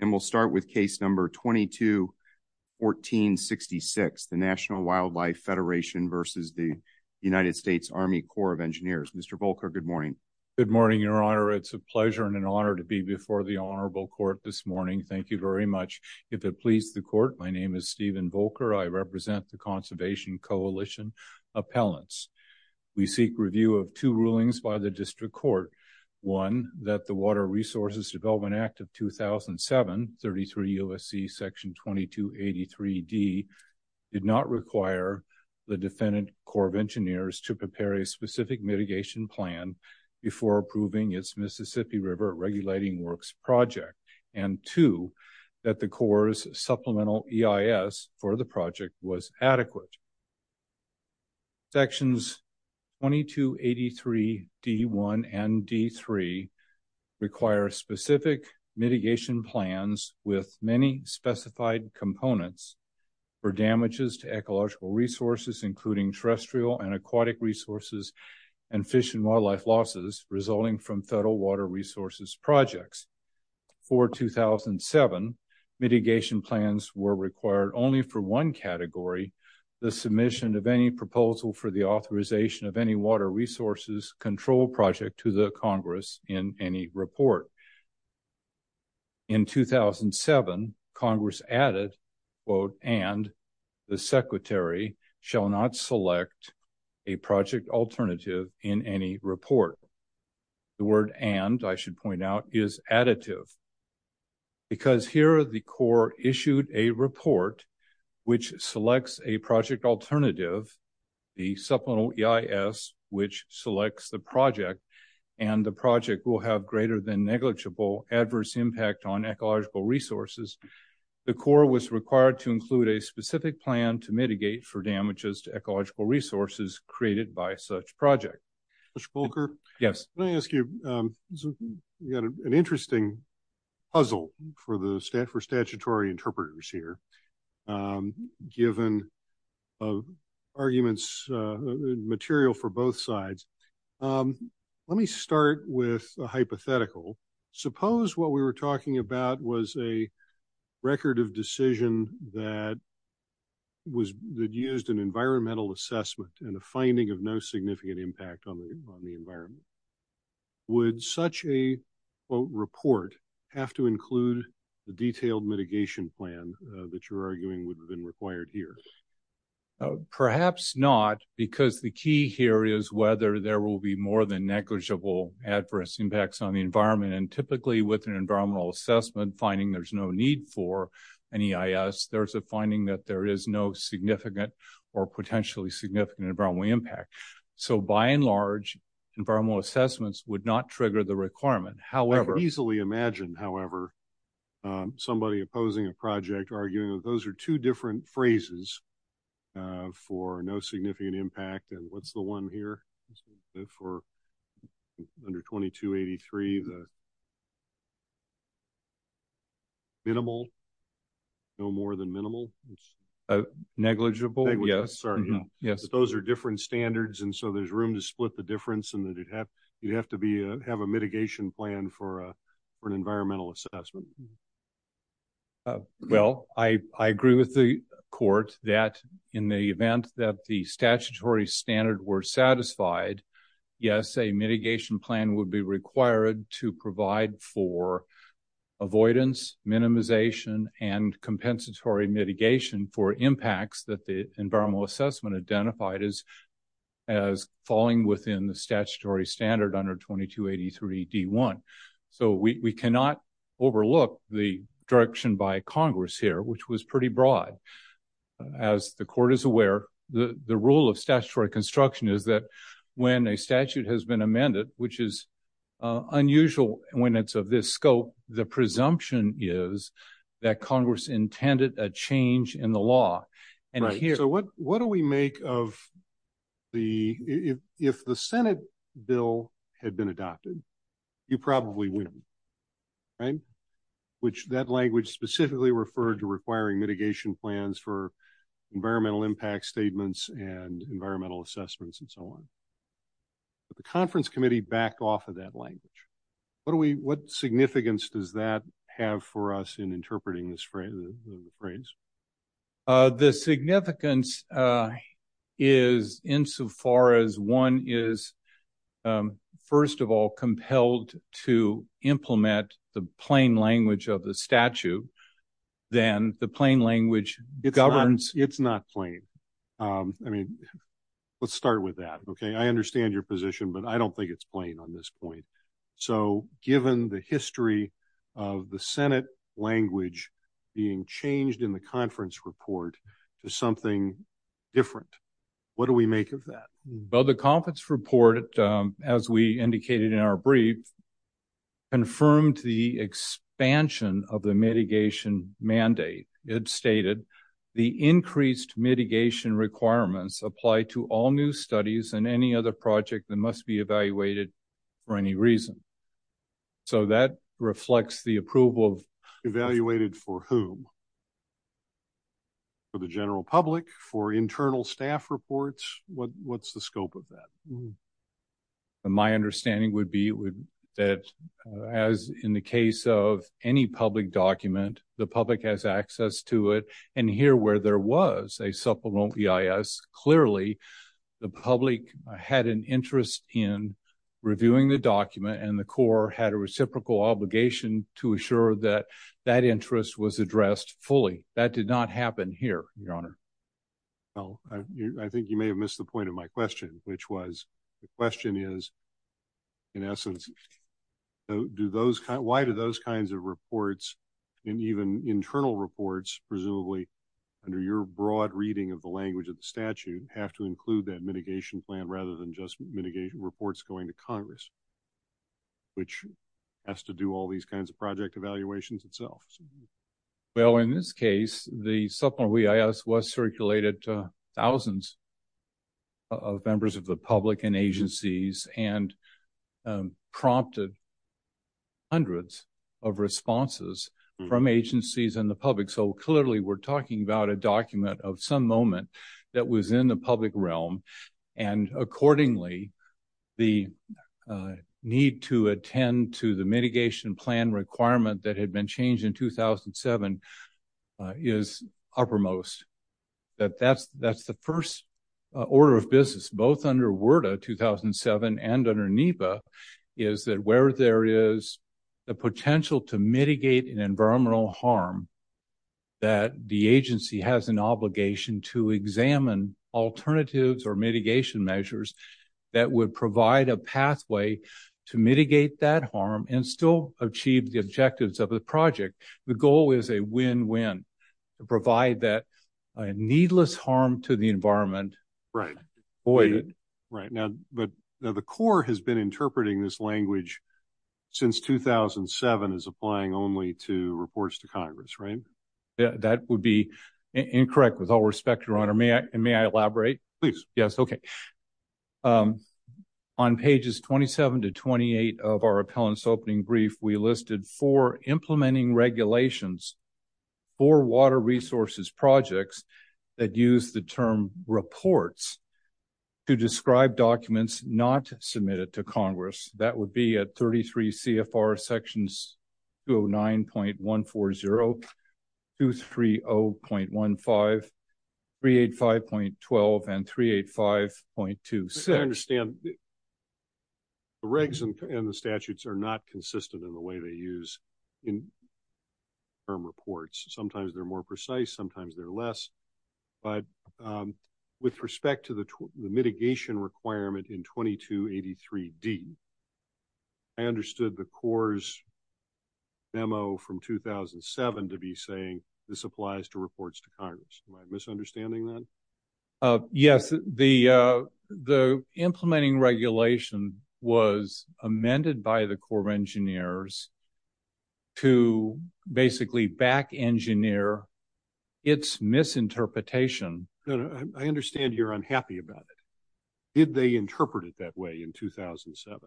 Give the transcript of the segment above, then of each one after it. Good morning, Your Honor. It's a pleasure and an honor to be before the Honorable Court this morning. Thank you very much. If it pleases the Court, my name is Stephen Volcker. I represent the Conservation Coalition Appellants. We seek review of two rulings by the District Court. One, that the Water Resources Development Act of 2007 be approved by the District Court. Section 2733 U.S.C. Section 2283D did not require the defendant Corps of Engineers to prepare a specific mitigation plan before approving its Mississippi River Regulating Works Project. And two, that the Corps' supplemental EIS for the project was adequate. Sections 2283D1 and D3 require specific mitigation plans with many specified components for damages to ecological resources, including terrestrial and aquatic resources and fish and wildlife losses resulting from federal water resources projects. For 2007, mitigation plans were required only for one category, the submission of any proposal for the authorization of any water resources control project to the Congress in any report. In 2007, Congress added, quote, and the secretary shall not select a project alternative in any report. The word and, I should point out, is additive. Because here the Corps issued a report which selects a project alternative, the supplemental EIS, which selects the project, and the project will have greater than negligible adverse impact on ecological resources, the Corps was required to include a specific plan to mitigate for damages to ecological resources created by such project. Mr. Polker? Yes. Can I ask you, you've got an interesting puzzle for the, for statutory interpreters here, given arguments, material for both sides. Let me start with a hypothetical. Suppose what we were talking about was a record of decision that was, that used an environmental assessment and a finding of no significant impact on the environment. Would such a, quote, report have to include the detailed mitigation plan that you're arguing would have been required here? Perhaps not, because the key here is whether there will be more than negligible adverse impacts on the environment. And typically with an environmental assessment finding there's no need for an EIS, there's a finding that there is no significant or potentially significant environmental impact. So by and large, environmental assessments would not trigger the requirement. I could easily imagine, however, somebody opposing a project arguing that those are two different phrases for no significant impact. And what's the one here for under 2283, the minimal, no more than minimal? Negligible, yes. Those are different standards and so there's room to split the difference and that you'd have to be, have a mitigation plan for an environmental assessment. Well, I agree with the court that in the event that the statutory standard were satisfied, yes, a mitigation plan would be required to provide for avoidance, minimization, and compensatory mitigation for impacts that the environmental assessment identified as falling within the statutory standard under 2283 D1. So we cannot overlook the direction by Congress here, which was pretty broad. As the court is aware, the rule of statutory construction is that when a statute has been amended, which is unusual when it's of this scope, the presumption is that Congress intended a change in the law. So what do we make of the, if the Senate bill had been adopted, you probably wouldn't, right? Which that language specifically referred to requiring mitigation plans for environmental impact statements and environmental assessments and so on. But the conference committee backed off of that language. What do we, what significance does that have for us in interpreting this phrase? The significance is insofar as one is, first of all, compelled to implement the plain language of the statute, then the plain language governs. It's not plain. I mean, let's start with that. Okay. I understand your position, but I don't think it's plain on this point. So given the history of the Senate language being changed in the conference report to something different, what do we make of that? Well, the conference report, as we indicated in our brief, confirmed the expansion of the mitigation mandate. It stated the increased mitigation requirements apply to all new studies and any other project that must be evaluated for any reason. So that reflects the approval of... Evaluated for whom? For the general public? For internal staff reports? What's the scope of that? My understanding would be that as in the case of any public document, the public has access to it. And here where there was a supplemental EIS, clearly the public had an interest in reviewing the document and the Corps had a reciprocal obligation to assure that that interest was addressed fully. That did not happen here, Your Honor. Well, I think you may have missed the point of my question, which was the question is, in essence, do those... Why do those kinds of reports and even internal reports, presumably under your broad reading of the language of the statute, have to include that mitigation plan rather than just mitigation reports going to Congress, which has to do all these kinds of project evaluations itself? Well, in this case, the supplemental EIS was circulated to thousands of members of the public and agencies and prompted hundreds of responses from agencies and the public. So clearly, we're talking about a document of some moment that was in the public realm and accordingly, the need to attend to the mitigation plan requirement that had been changed in 2007 is uppermost. That's the first order of business, both under WERDA 2007 and under NEPA, is that where there is the potential to mitigate an environmental harm, that the agency has an obligation to examine alternatives or mitigation measures that would provide a pathway to mitigate that harm and still achieve the objectives of the project. The goal is a win-win to provide that needless harm to the environment avoided. Right. Now, the Corps has been interpreting this language since 2007 as applying only to reports to Congress, right? That would be incorrect, with all respect, Your Honor. May I elaborate? Please. Yes, okay. On pages 27 to 28 of our appellant's opening brief, we listed four implementing regulations for water resources projects that use the term reports to describe documents not submitted to Congress. That would be at 33 CFR Sections 209.140, 230.15, 385.12, and 385.26. I understand the regs and the statutes are not consistent in the way they use term reports. Sometimes they're more precise, sometimes they're less. But with respect to the mitigation requirement in 2283D, I understood the Corps' memo from 2007 to be saying this applies to reports to Congress. Am I misunderstanding that? Yes, the implementing regulation was amended by the Corps of Engineers to basically back-engineer its misinterpretation. I understand you're unhappy about it. Did they interpret it that way in 2007?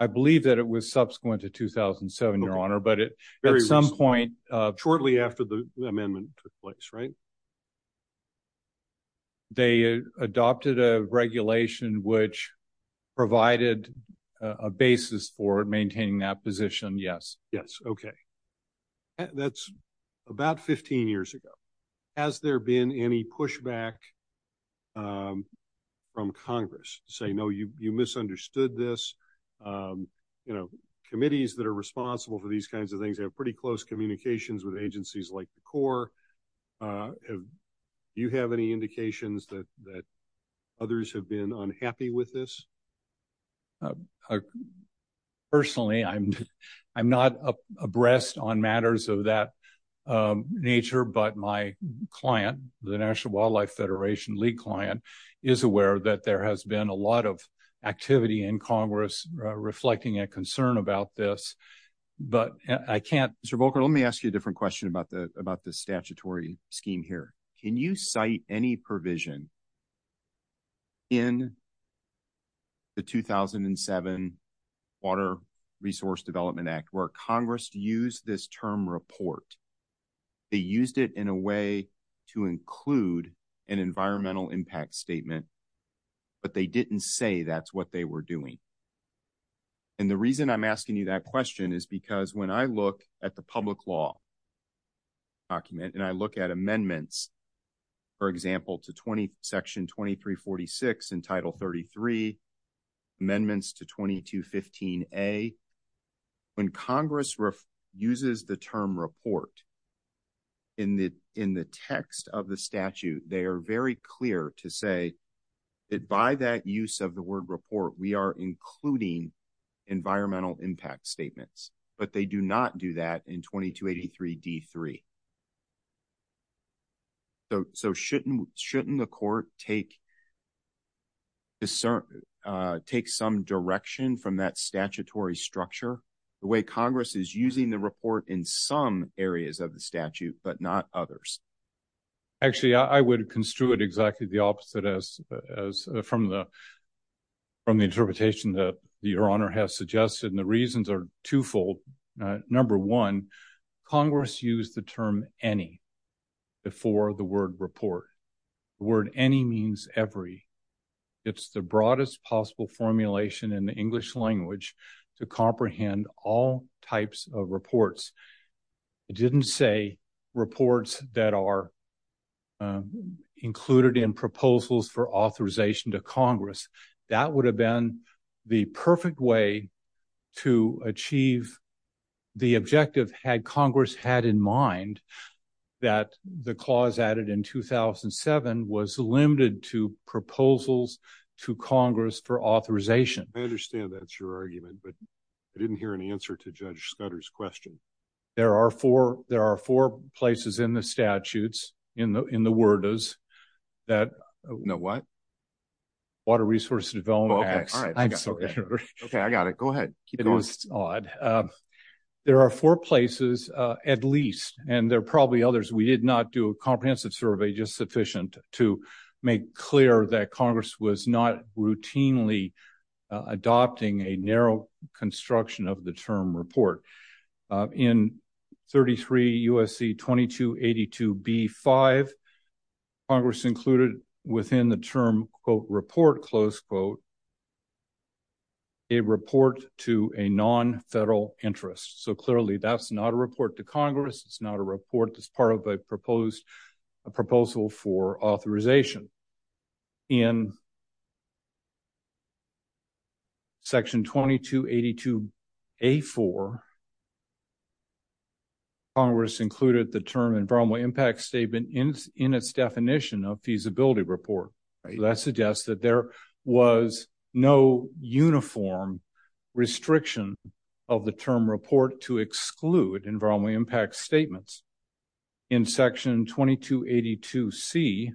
I believe that it was subsequent to 2007, Your Honor, but at some point... They adopted a regulation which provided a basis for maintaining that position, yes. Yes, okay. That's about 15 years ago. Has there been any pushback from Congress to say, no, you misunderstood this? Committees that are responsible for these kinds of things have pretty close communications with agencies like the Corps. Do you have any indications that others have been unhappy with this? Personally, I'm not abreast on matters of that nature, but my client, the National Wildlife Federation, Lee client, is aware that there has been a lot of activity in Congress reflecting a concern about this. Mr. Volker, let me ask you a different question about the statutory scheme here. Can you cite any provision in the 2007 Water Resource Development Act where Congress used this term report? They used it in a way to include an environmental impact statement, but they didn't say that's what they were doing. And the reason I'm asking you that question is because when I look at the public law document and I look at amendments, for example, to Section 2346 in Title 33, amendments to 2215A, when Congress uses the term report in the text of the statute, they are very clear to say that by that use of the word report, we are including environmental impact statements, but they do not do that in 2283D3. So shouldn't the court take some direction from that statutory structure, the way Congress is using the report in some areas of the statute, but not others? Actually, I would construe it exactly the opposite from the interpretation that Your Honor has suggested, and the reasons are twofold. Number one, Congress used the term any before the word report. The word any means every. It's the broadest possible formulation in the English language to comprehend all types of reports. It didn't say reports that are included in proposals for authorization to Congress. That would have been the perfect way to achieve the objective had Congress had in mind that the clause added in 2007 was limited to proposals to Congress for authorization. I understand that's your argument, but I didn't hear an answer to Judge Scudder's question. There are four places in the statutes, in the word is that... No, what? Water Resource Development Act. Okay, I got it. Go ahead. Keep going. There are four places at least, and there are probably others. We did not do a comprehensive survey just sufficient to make clear that Congress was not routinely adopting a narrow construction of the term report. In 33 U.S.C. 2282b-5, Congress included within the term, quote, report, close quote, a report to a non-federal interest. So clearly, that's not a report to Congress. It's not a report that's part of a proposal for authorization. In section 2282a-4, Congress included the term environmental impact statement in its definition of feasibility report. That suggests that there was no uniform restriction of the term report to exclude environmental impact statements. In section 2282c,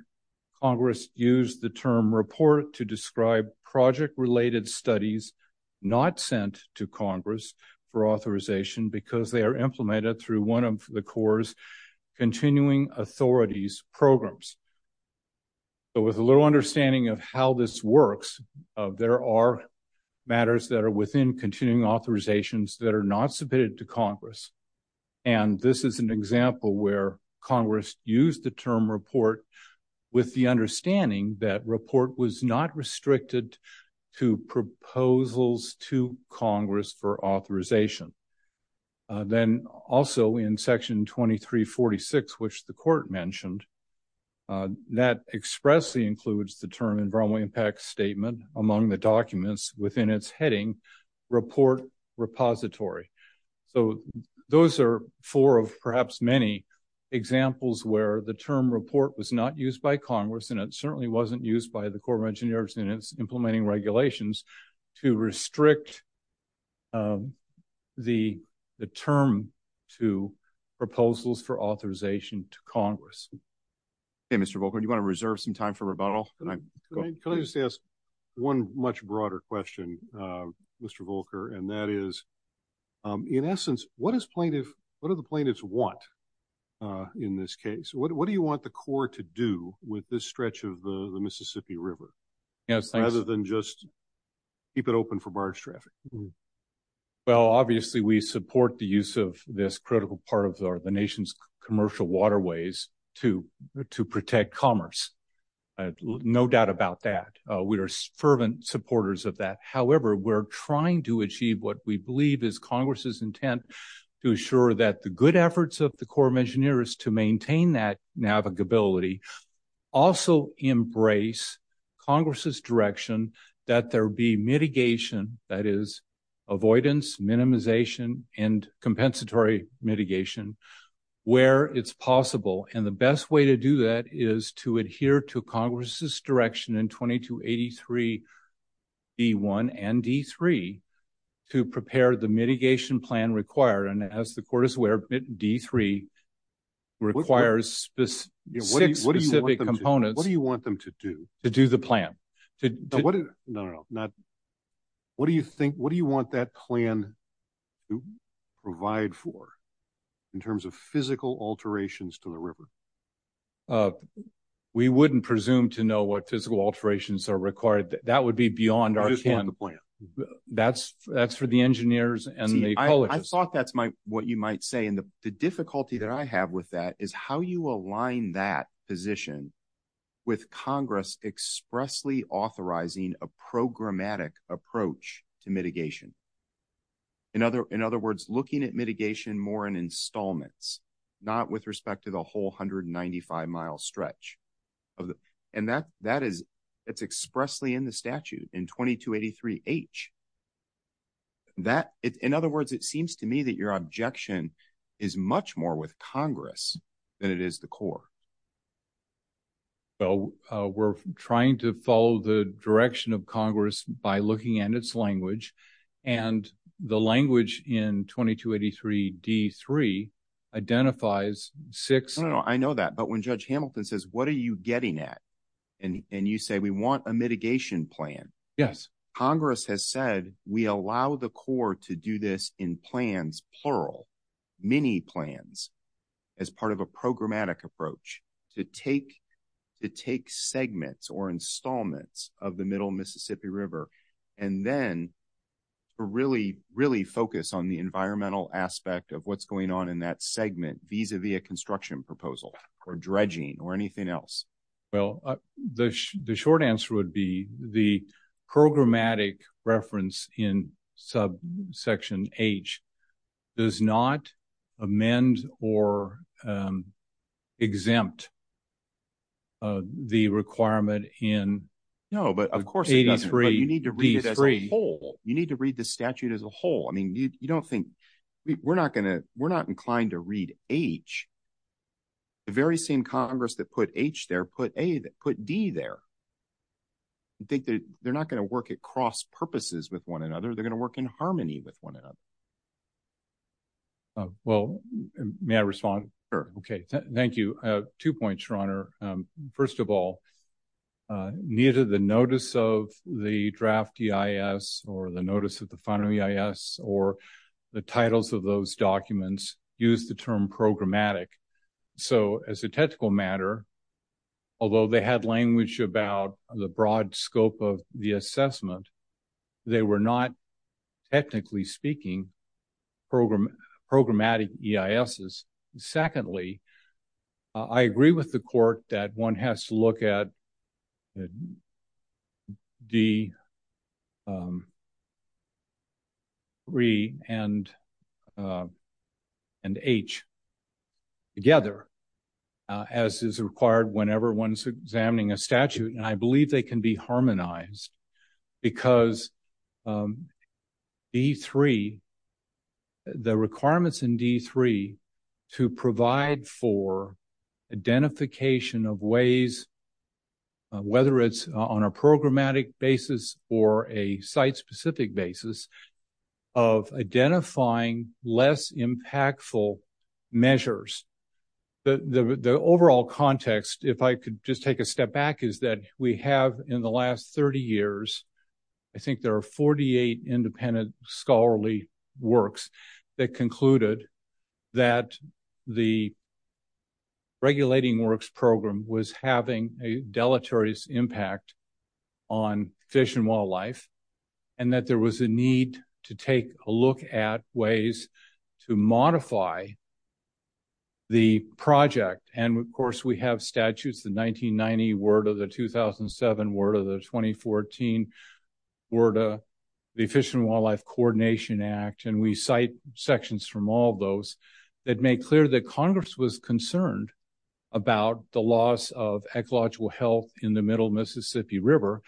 Congress used the term report to describe project-related studies not sent to Congress for authorization because they are implemented through one of the Corps' continuing authorities programs. So with a little understanding of how this works, there are matters that are within continuing authorizations that are not submitted to Congress. And this is an example where Congress used the term report with the understanding that report was not restricted to proposals to Congress for authorization. Then also in section 2346, which the court mentioned, that expressly includes the term environmental impact statement among the documents within its heading, report repository. So those are four of perhaps many examples where the term report was not used by Congress, and it certainly wasn't used by the Corps of Engineers in its implementing regulations to restrict the term to proposals for authorization to Congress. Mr. Volker, do you want to reserve some time for rebuttal? Can I just ask one much broader question, Mr. Volker? And that is, in essence, what do the plaintiffs want in this case? What do you want the Corps to do with this stretch of the Mississippi River rather than just keep it open for barge traffic? Well, obviously, we support the use of this critical part of the nation's commercial waterways to protect commerce. No doubt about that. We are fervent supporters of that. However, we're trying to achieve what we believe is Congress's intent to assure that the good efforts of the Corps of Engineers to maintain that navigability also embrace Congress's direction that there be mitigation, that is, avoidance, minimization, and compensatory mitigation where it's possible. And the best way to do that is to adhere to Congress's direction in 2283 D-1 and D-3 to prepare the mitigation plan required. And as the court is aware, D-3 requires six specific components. What do you want them to do? To do the plan. No, no, no. What do you think, what do you want that plan to provide for in terms of physical alterations to the river? We wouldn't presume to know what physical alterations are required. That would be beyond our plan. That's for the engineers and the coalitions. I just thought that's what you might say, and the difficulty that I have with that is how you align that position with Congress expressly authorizing a programmatic approach to mitigation. In other words, looking at mitigation more in installments, not with respect to the whole 195-mile stretch. And that is expressly in the statute in 2283 H. In other words, it seems to me that your objection is much more with Congress than it is the court. Well, we're trying to follow the direction of Congress by looking at its language. And the language in 2283 D-3 identifies six. I know that. But when Judge Hamilton says, what are you getting at? And you say we want a mitigation plan. Yes. Congress has said we allow the court to do this in plans, plural, mini plans, as part of a programmatic approach to take segments or installments of the middle Mississippi River. And then really, really focus on the environmental aspect of what's going on in that segment, vis-a-vis a construction proposal or dredging or anything else. Well, the short answer would be the programmatic reference in subsection H does not amend or exempt the requirement in. No, but of course, you need to read it as a whole. You need to read the statute as a whole. I mean, you don't think we're not going to we're not inclined to read H. The very same Congress that put H there put a put D there. I think they're not going to work at cross purposes with one another. They're going to work in harmony with one another. Well, may I respond? Two points, Your Honor. First of all, neither the notice of the draft EIS or the notice of the final EIS or the titles of those documents use the term programmatic. So as a technical matter, although they had language about the broad scope of the assessment, they were not technically speaking programmatic EISs. Secondly, I agree with the court that one has to look at D3 and H together as is required whenever one's examining a statute. And I believe they can be harmonized because D3, the requirements in D3 to provide for identification of ways, whether it's on a programmatic basis or a site specific basis of identifying less impactful measures. The overall context, if I could just take a step back, is that we have in the last 30 years, I think there are 48 independent scholarly works that concluded that the regulating works program was having a deleterious impact on fish and wildlife. And that there was a need to take a look at ways to modify the project. And of course, we have statutes, the 1990 WERDA, the 2007 WERDA, the 2014 WERDA, the Fish and Wildlife Coordination Act, and we cite sections from all those that make clear that Congress was concerned about the loss of ecological health in the middle Mississippi River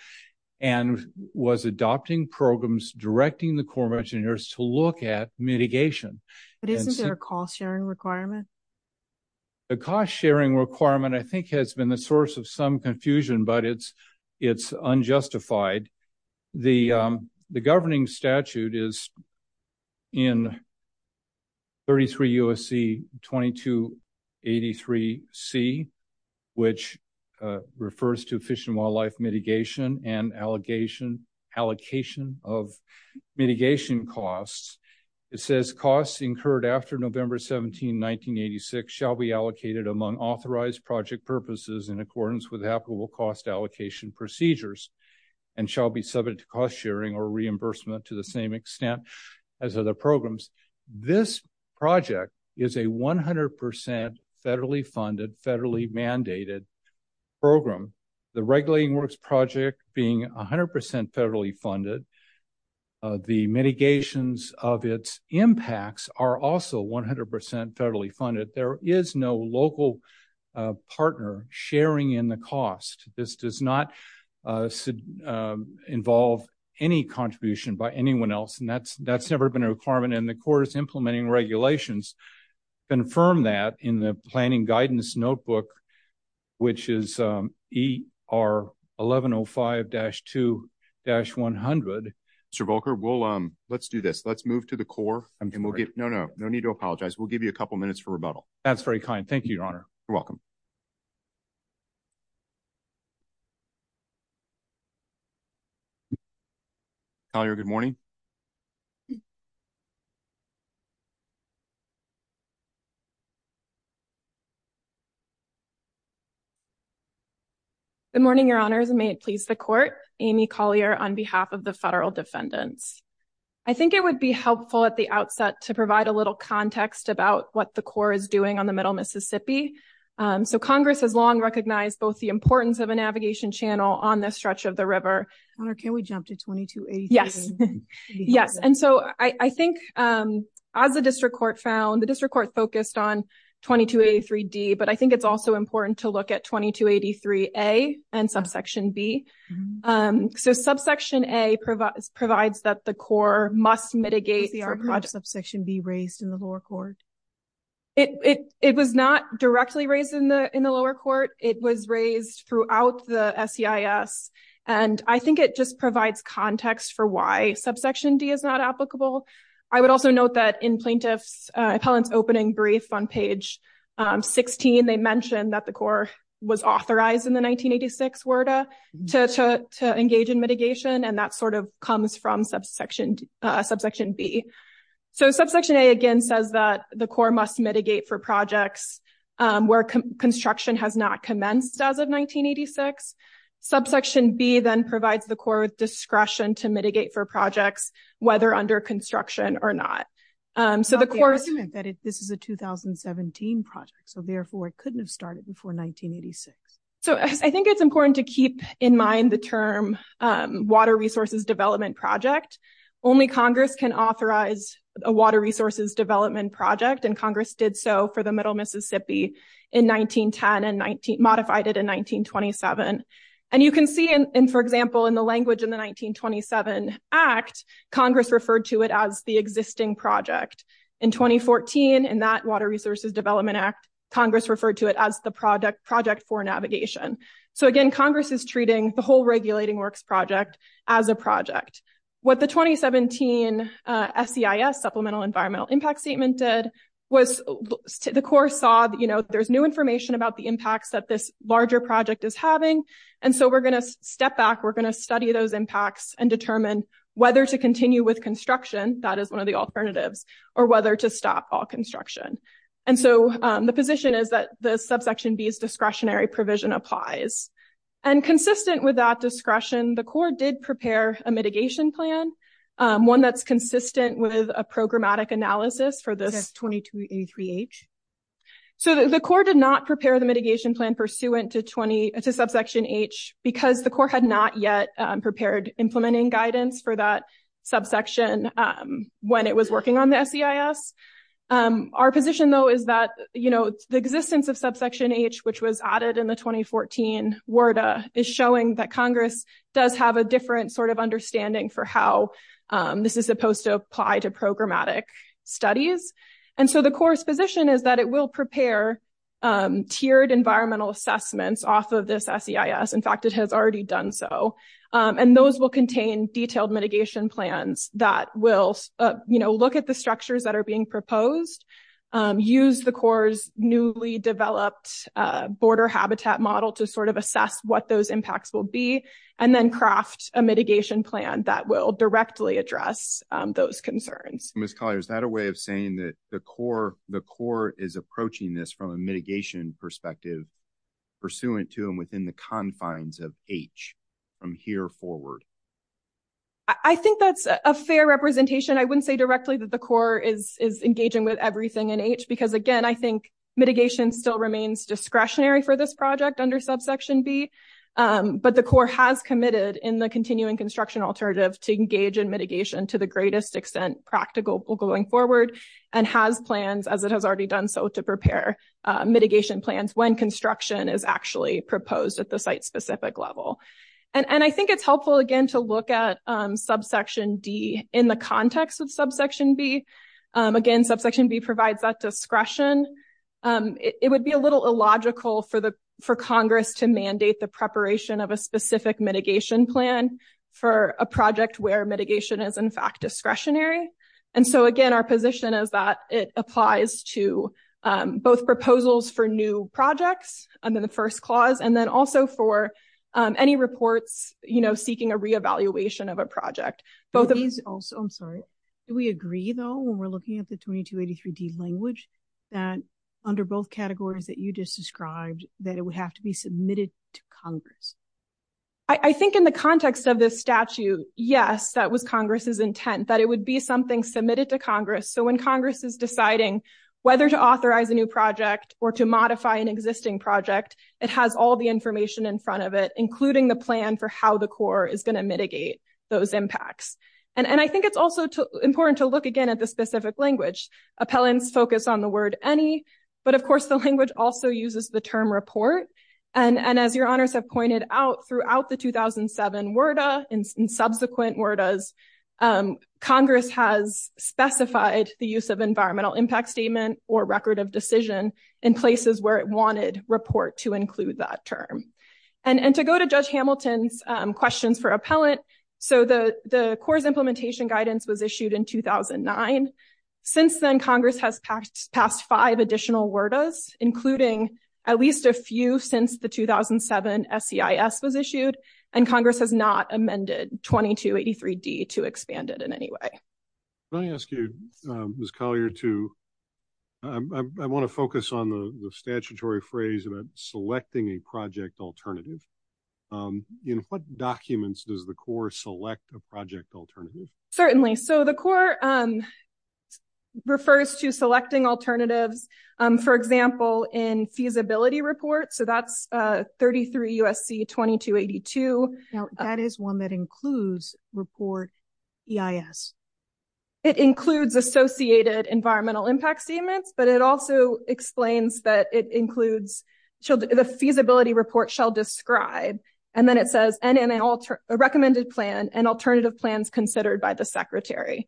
and was adopting programs directing the Corps of Engineers to look at mitigation. But isn't there a cost sharing requirement? The cost sharing requirement, I think, has been the source of some confusion, but it's unjustified. The governing statute is in 33 U.S.C. 2283C, which refers to fish and wildlife mitigation and allocation of mitigation costs. It says costs incurred after November 17, 1986 shall be allocated among authorized project purposes in accordance with applicable cost allocation procedures and shall be subjected to cost sharing or reimbursement to the same extent as other programs. This project is a 100% federally funded, federally mandated program. The Regulating Works Project being 100% federally funded, the mitigations of its impacts are also 100% federally funded. There is no local partner sharing in the cost. This does not involve any contribution by anyone else, and that's never been a requirement, and the Corps is implementing regulations to confirm that in the planning guidance notebook, which is ER 1105-2-100. Mr. Volker, let's do this. Let's move to the Corps. No, no. No need to apologize. We'll give you a couple minutes for rebuttal. Thank you, Your Honor. You're welcome. Collier, good morning. Good morning, Your Honors, and may it please the Court. Amy Collier on behalf of the federal defendants. I think it would be helpful at the outset to provide a little context about what the Corps is doing on the Middle Mississippi. So Congress has long recognized both the importance of a navigation channel on the stretch of the river. Your Honor, can we jump to 2283? Yes. Yes. And so I think, as the District Court found, the District Court focused on 2283-D, but I think it's also important to look at 2283-A and Subsection B. So Subsection A provides that the Corps must mitigate. Was the argument of Subsection B raised in the lower court? It was not directly raised in the lower court. It was raised throughout the SEIS, and I think it just provides context for why Subsection D is not applicable. I would also note that in plaintiff's appellant's opening brief on page 16, they mentioned that the Corps was authorized in the 1986 WERDA to engage in mitigation, and that sort of comes from Subsection B. So Subsection A, again, says that the Corps must mitigate for projects where construction has not commenced as of 1986. Subsection B then provides the Corps with discretion to mitigate for projects, whether under construction or not. It's not the argument that this is a 2017 project, so therefore it couldn't have started before 1986. So I think it's important to keep in mind the term water resources development project. Only Congress can authorize a water resources development project, and Congress did so for the Middle Mississippi in 1910 and modified it in 1927. And you can see, for example, in the language in the 1927 Act, Congress referred to it as the existing project. In 2014, in that Water Resources Development Act, Congress referred to it as the project for navigation. So again, Congress is treating the whole Regulating Works project as a project. What the 2017 SEIS, Supplemental Environmental Impact Statement, did was the Corps saw, you know, there's new information about the impacts that this larger project is having. And so we're going to step back, we're going to study those impacts and determine whether to continue with construction, that is one of the alternatives, or whether to stop all construction. And so the position is that the Subsection B's discretionary provision applies. And consistent with that discretion, the Corps did prepare a mitigation plan, one that's consistent with a programmatic analysis for this 2283-H. So the Corps did not prepare the mitigation plan pursuant to subsection H because the Corps had not yet prepared implementing guidance for that subsection when it was working on the SEIS. Our position though is that, you know, the existence of subsection H, which was added in the 2014 WERDA, is showing that Congress does have a different sort of understanding for how this is supposed to apply to programmatic studies. And so the Corps' position is that it will prepare tiered environmental assessments off of this SEIS. In fact, it has already done so. And those will contain detailed mitigation plans that will, you know, look at the structures that are being proposed, use the Corps' newly developed border habitat model to sort of assess what those impacts will be, and then craft a mitigation plan that will directly address those concerns. Ms. Collier, is that a way of saying that the Corps is approaching this from a mitigation perspective pursuant to and within the confines of H from here forward? I think that's a fair representation. I wouldn't say directly that the Corps is engaging with everything in H because, again, I think mitigation still remains discretionary for this project under subsection B. But the Corps has committed in the continuing construction alternative to engage in mitigation to the greatest extent practical going forward, and has plans, as it has already done so, to prepare mitigation plans when construction is actually proposed at the site-specific level. And I think it's helpful, again, to look at subsection D in the context of subsection B. Again, subsection B provides that discretion. It would be a little illogical for Congress to mandate the preparation of a specific mitigation plan for a project where mitigation is, in fact, discretionary. And so, again, our position is that it applies to both proposals for new projects under the first clause, and then also for any reports seeking a reevaluation of a project. I'm sorry. Do we agree, though, when we're looking at the 2283D language, that under both categories that you just described, that it would have to be submitted to Congress? I think in the context of this statute, yes, that was Congress's intent, that it would be something submitted to Congress. So when Congress is deciding whether to authorize a new project or to modify an existing project, it has all the information in front of it, including the plan for how the Corps is going to mitigate those impacts. And I think it's also important to look, again, at the specific language. Appellants focus on the word any, but, of course, the language also uses the term report. And as your honors have pointed out throughout the 2007 WERDA and subsequent WERDAs, Congress has specified the use of environmental impact statement or record of decision in places where it wanted report to include that term. And to go to Judge Hamilton's questions for appellant, so the Corps' implementation guidance was issued in 2009. Since then, Congress has passed five additional WERDAs, including at least a few since the 2007 SEIS was issued, and Congress has not amended 2283D to expand it in any way. Can I ask you, Ms. Collier, to, I want to focus on the statutory phrase about selecting a project alternative. In what documents does the Corps select a project alternative? Certainly. So the Corps refers to selecting alternatives, for example, in feasibility reports. So that's 33 U.S.C. 2282. Now, that is one that includes report EIS. It includes associated environmental impact statements, but it also explains that it includes, the feasibility report shall describe, and then it says, and in a recommended plan and alternative plans considered by the secretary.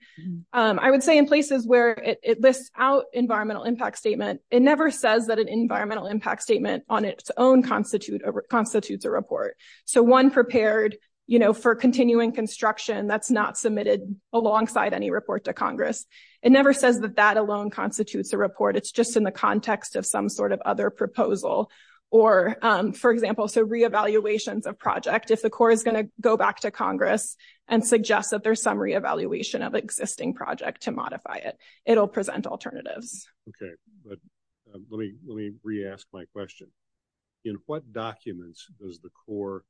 I would say in places where it lists out environmental impact statement, it never says that an environmental impact statement on its own constitutes a report. So one prepared, you know, for continuing construction that's not submitted alongside any report to Congress. It never says that that alone constitutes a report. It's just in the context of some sort of other proposal. Or, for example, so re-evaluations of project, if the Corps is going to go back to Congress and suggest that there's some re-evaluation of existing project to modify it, it'll present alternatives. Okay, but let me re-ask my question. In what documents does the Corps,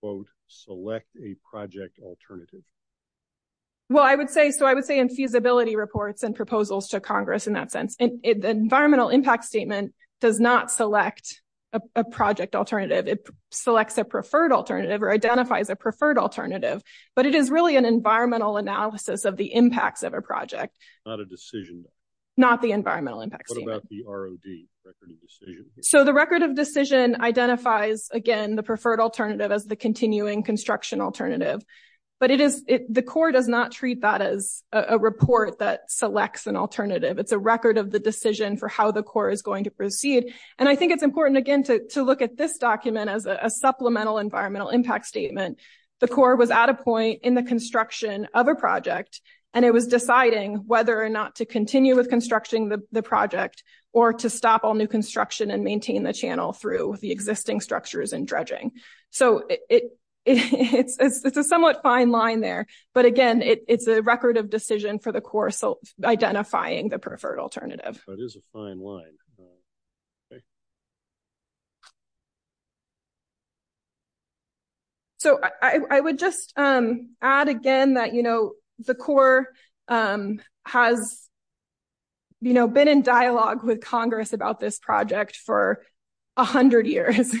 quote, select a project alternative? Well, I would say, so I would say in feasibility reports and proposals to Congress in that sense, the environmental impact statement does not select a project alternative. It selects a preferred alternative or identifies a preferred alternative, but it is really an environmental analysis of the impacts of a project. Not a decision. Not the environmental impact statement. What about the ROD, Record of Decision? Again, the preferred alternative as the continuing construction alternative. But it is, the Corps does not treat that as a report that selects an alternative. It's a record of the decision for how the Corps is going to proceed. And I think it's important, again, to look at this document as a supplemental environmental impact statement. The Corps was at a point in the construction of a project, and it was deciding whether or not to continue with construction of the project, or to stop all new construction and maintain the channel through the existing structures and dredging. So, it's a somewhat fine line there. But again, it's a record of decision for the Corps identifying the preferred alternative. That is a fine line. So, I would just add again that, you know, the Corps has, you know, been in dialogue with Congress about this project for 100 years.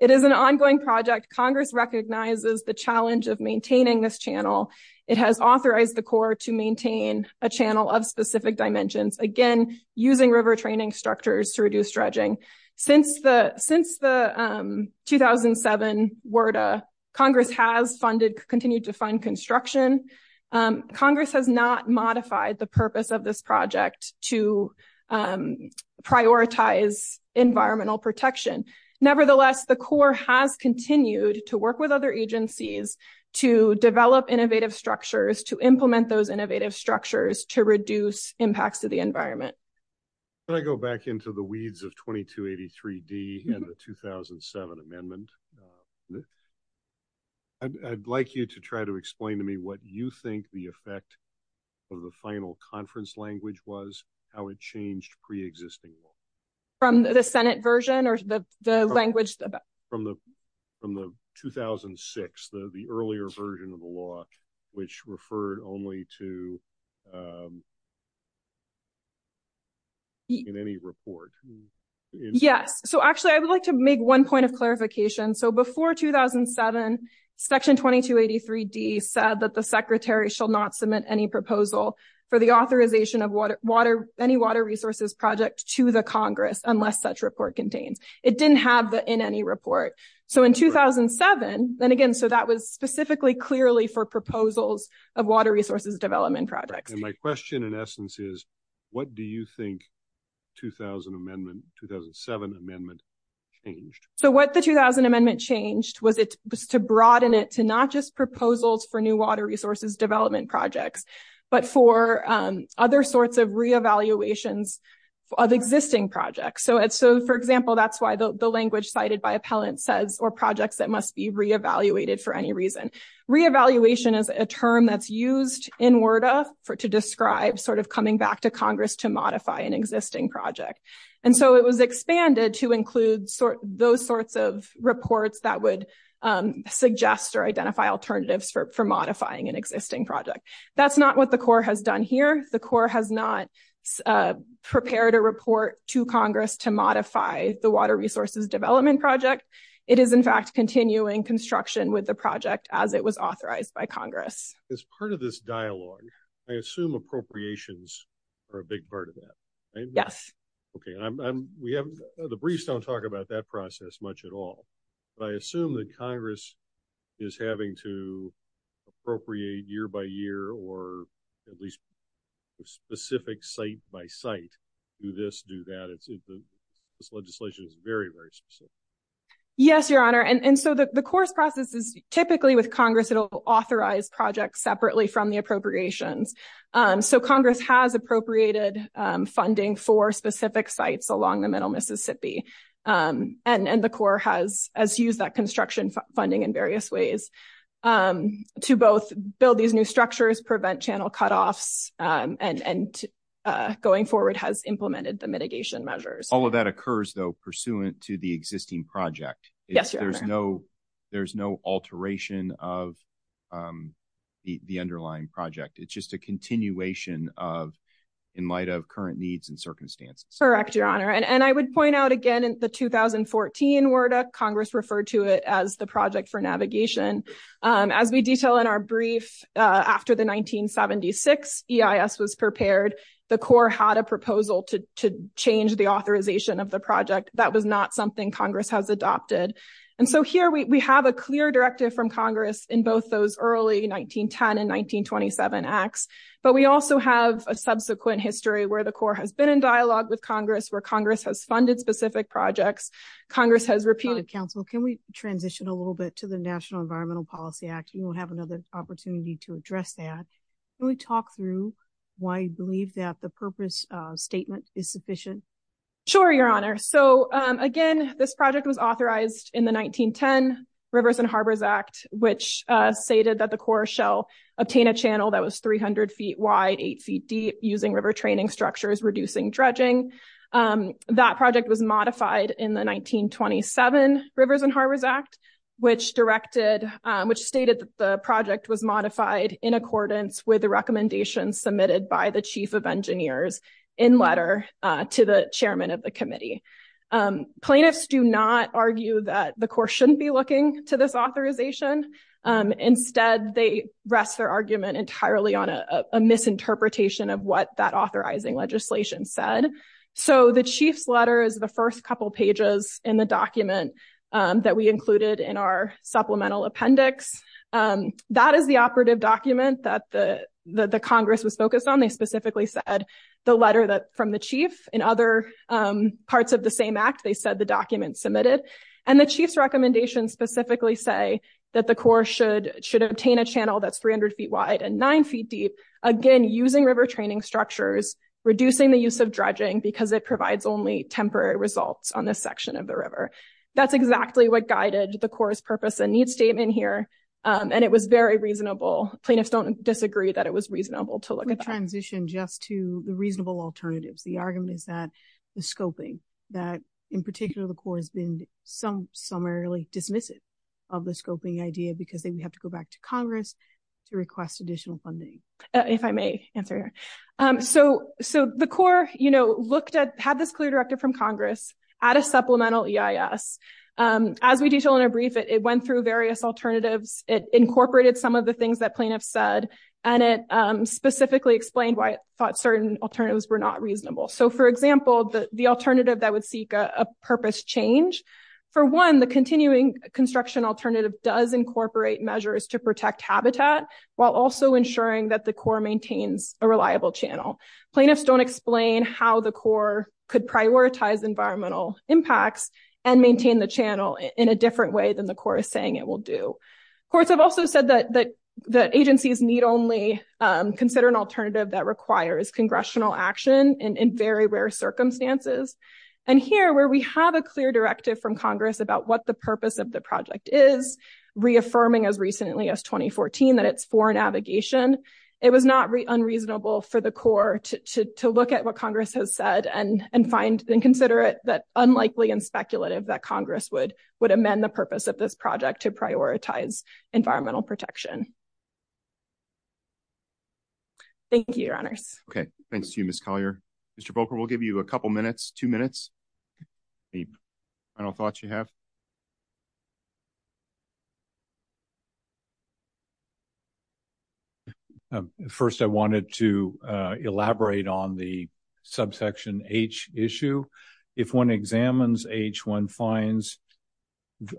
It is an ongoing project. Congress recognizes the challenge of maintaining this channel. It has authorized the Corps to maintain a channel of specific dimensions, again, using river training structures to reduce dredging. Since the 2007 WERDA, Congress has funded, continued to fund construction. Congress has not modified the purpose of this project to prioritize environmental protection. Nevertheless, the Corps has continued to work with other agencies to develop innovative structures, to implement those innovative structures, to reduce impacts to the environment. Can I go back into the weeds of 2283D and the 2007 amendment? I'd like you to try to explain to me what you think the effect of the final conference language was, how it changed pre-existing law. From the Senate version or the language? From the 2006, the earlier version of the law, which referred only to in any report. Yes. So, actually, I would like to make one point of clarification. So, before 2007, Section 2283D said that the Secretary shall not submit any proposal for the authorization of any water resources project to the Congress unless such report contains. It didn't have the in any report. So, in 2007, then again, so that was specifically clearly for proposals of water resources development projects. And my question in essence is, what do you think 2000 amendment, 2007 amendment changed? So, what the 2000 amendment changed was to broaden it to not just proposals for new water resources development projects, but for other sorts of re-evaluations of existing projects. So, for example, that's why the language cited by appellant says, or projects that must be re-evaluated for any reason. Re-evaluation is a term that's used in WERDA to describe sort of coming back to Congress to modify an existing project. And so it was expanded to include those sorts of reports that would suggest or identify alternatives for modifying an existing project. That's not what the Corps has done here. The Corps has not prepared a report to Congress to modify the water resources development project. It is, in fact, continuing construction with the project as it was authorized by Congress. As part of this dialogue, I assume appropriations are a big part of that. Yes. Okay. The briefs don't talk about that process much at all. But I assume that Congress is having to appropriate year by year or at least specific site by site. Do this, do that. This legislation is very, very specific. Yes, Your Honor. And so the Corps' process is typically with Congress. It will authorize projects separately from the appropriations. So, Congress has appropriated funding for specific sites along the middle Mississippi. And the Corps has used that construction funding in various ways to both build these new structures, prevent channel cutoffs, and going forward has implemented the mitigation measures. All of that occurs, though, pursuant to the existing project. Yes, Your Honor. There's no alteration of the underlying project. It's just a continuation in light of current needs and circumstances. Correct, Your Honor. And I would point out again in the 2014 WERDA, Congress referred to it as the Project for Navigation. As we detail in our brief, after the 1976 EIS was prepared, the Corps had a proposal to change the authorization of the project. That was not something Congress has adopted. And so here we have a clear directive from Congress in both those early 1910 and 1927 acts. But we also have a subsequent history where the Corps has been in dialogue with Congress, where Congress has funded specific projects. Congress has repeated... Counsel, can we transition a little bit to the National Environmental Policy Act? We will have another opportunity to address that. Can we talk through why you believe that the purpose statement is sufficient? Sure, Your Honor. So, again, this project was authorized in the 1910 Rivers and Harbors Act, which stated that the Corps shall obtain a channel that was 300 feet wide, 8 feet deep, using river training structures, reducing dredging. That project was modified in the 1927 Rivers and Harbors Act, which stated that the project was modified in accordance with the recommendations submitted by the chief of engineers in letter to the chairman of the committee. Plaintiffs do not argue that the Corps shouldn't be looking to this authorization. Instead, they rest their argument entirely on a misinterpretation of what that authorizing legislation said. So the chief's letter is the first couple pages in the document that we included in our supplemental appendix. That is the operative document that the Congress was focused on. They specifically said the letter from the chief. In other parts of the same act, they said the document submitted. And the chief's recommendations specifically say that the Corps should obtain a channel that's 300 feet wide and 9 feet deep. Again, using river training structures, reducing the use of dredging because it provides only temporary results on this section of the river. That's exactly what guided the Corps' purpose and need statement here, and it was very reasonable. Plaintiffs don't disagree that it was reasonable to look at that. I'm going to transition just to the reasonable alternatives. The argument is that the scoping that, in particular, the Corps has been some summarily dismissive of the scoping idea because they would have to go back to Congress to request additional funding. If I may answer. So, so the Corps, you know, looked at had this clear directive from Congress at a supplemental EIS. As we detail in a brief, it went through various alternatives. It incorporated some of the things that plaintiffs said, and it specifically explained why it thought certain alternatives were not reasonable. So, for example, the alternative that would seek a purpose change. For one, the continuing construction alternative does incorporate measures to protect habitat, while also ensuring that the Corps maintains a reliable channel. Plaintiffs don't explain how the Corps could prioritize environmental impacts and maintain the channel in a different way than the Corps is saying it will do. Courts have also said that the agencies need only consider an alternative that requires congressional action in very rare circumstances. And here, where we have a clear directive from Congress about what the purpose of the project is, reaffirming as recently as 2014 that it's for navigation. It was not unreasonable for the Corps to look at what Congress has said and and find and consider it that unlikely and speculative that Congress would would amend the purpose of this project to prioritize environmental protection. Thank you, Your Honors. Okay, thanks to you, Miss Collier. Mr. First, I wanted to elaborate on the subsection H issue. If one examines H, one finds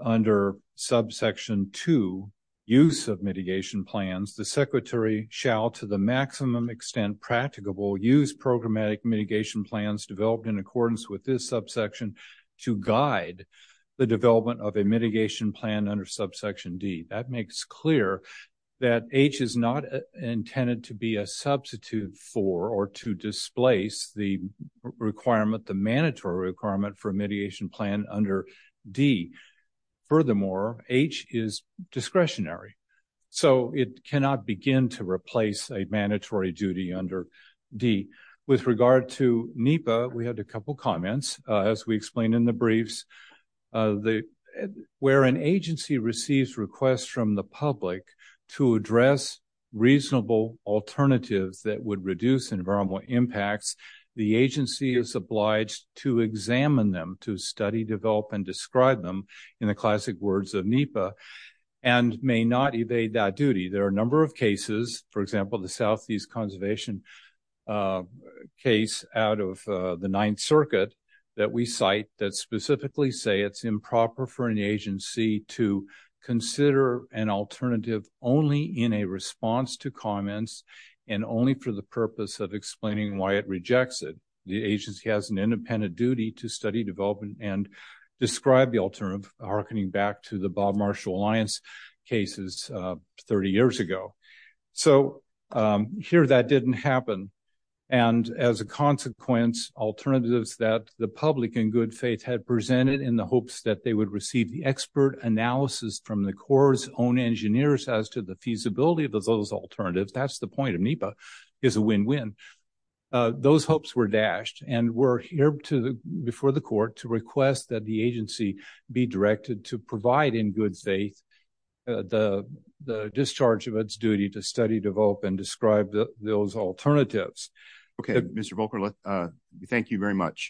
under subsection 2, use of mitigation plans, the secretary shall, to the maximum extent practicable, use programmatic mitigation plans developed in accordance with this subsection to guide the development of a mitigation plan under subsection D. That makes clear that H is not intended to be a substitute for or to displace the requirement, the mandatory requirement for a mediation plan under D. Furthermore, H is discretionary, so it cannot begin to replace a mandatory duty under D. With regard to NEPA, we had a couple comments, as we explained in the briefs. Where an agency receives requests from the public to address reasonable alternatives that would reduce environmental impacts, the agency is obliged to examine them, to study, develop, and describe them in the classic words of NEPA and may not evade that duty. There are a number of cases, for example, the Southeast Conservation case out of the Ninth Circuit that we cite that specifically say it's improper for an agency to consider an alternative only in a response to comments and only for the purpose of explaining why it rejects it. The agency has an independent duty to study, develop, and describe the alternative, hearkening back to the Bob Marshall Alliance cases 30 years ago. So, here that didn't happen. And as a consequence, alternatives that the public in good faith had presented in the hopes that they would receive the expert analysis from the Corps' own engineers as to the feasibility of those alternatives, that's the point of NEPA, is a win-win. Those hopes were dashed, and we're here before the court to request that the agency be directed to provide in good faith the discharge of its duty to study, develop, and describe those alternatives. Okay, Mr. Volker, thank you very much.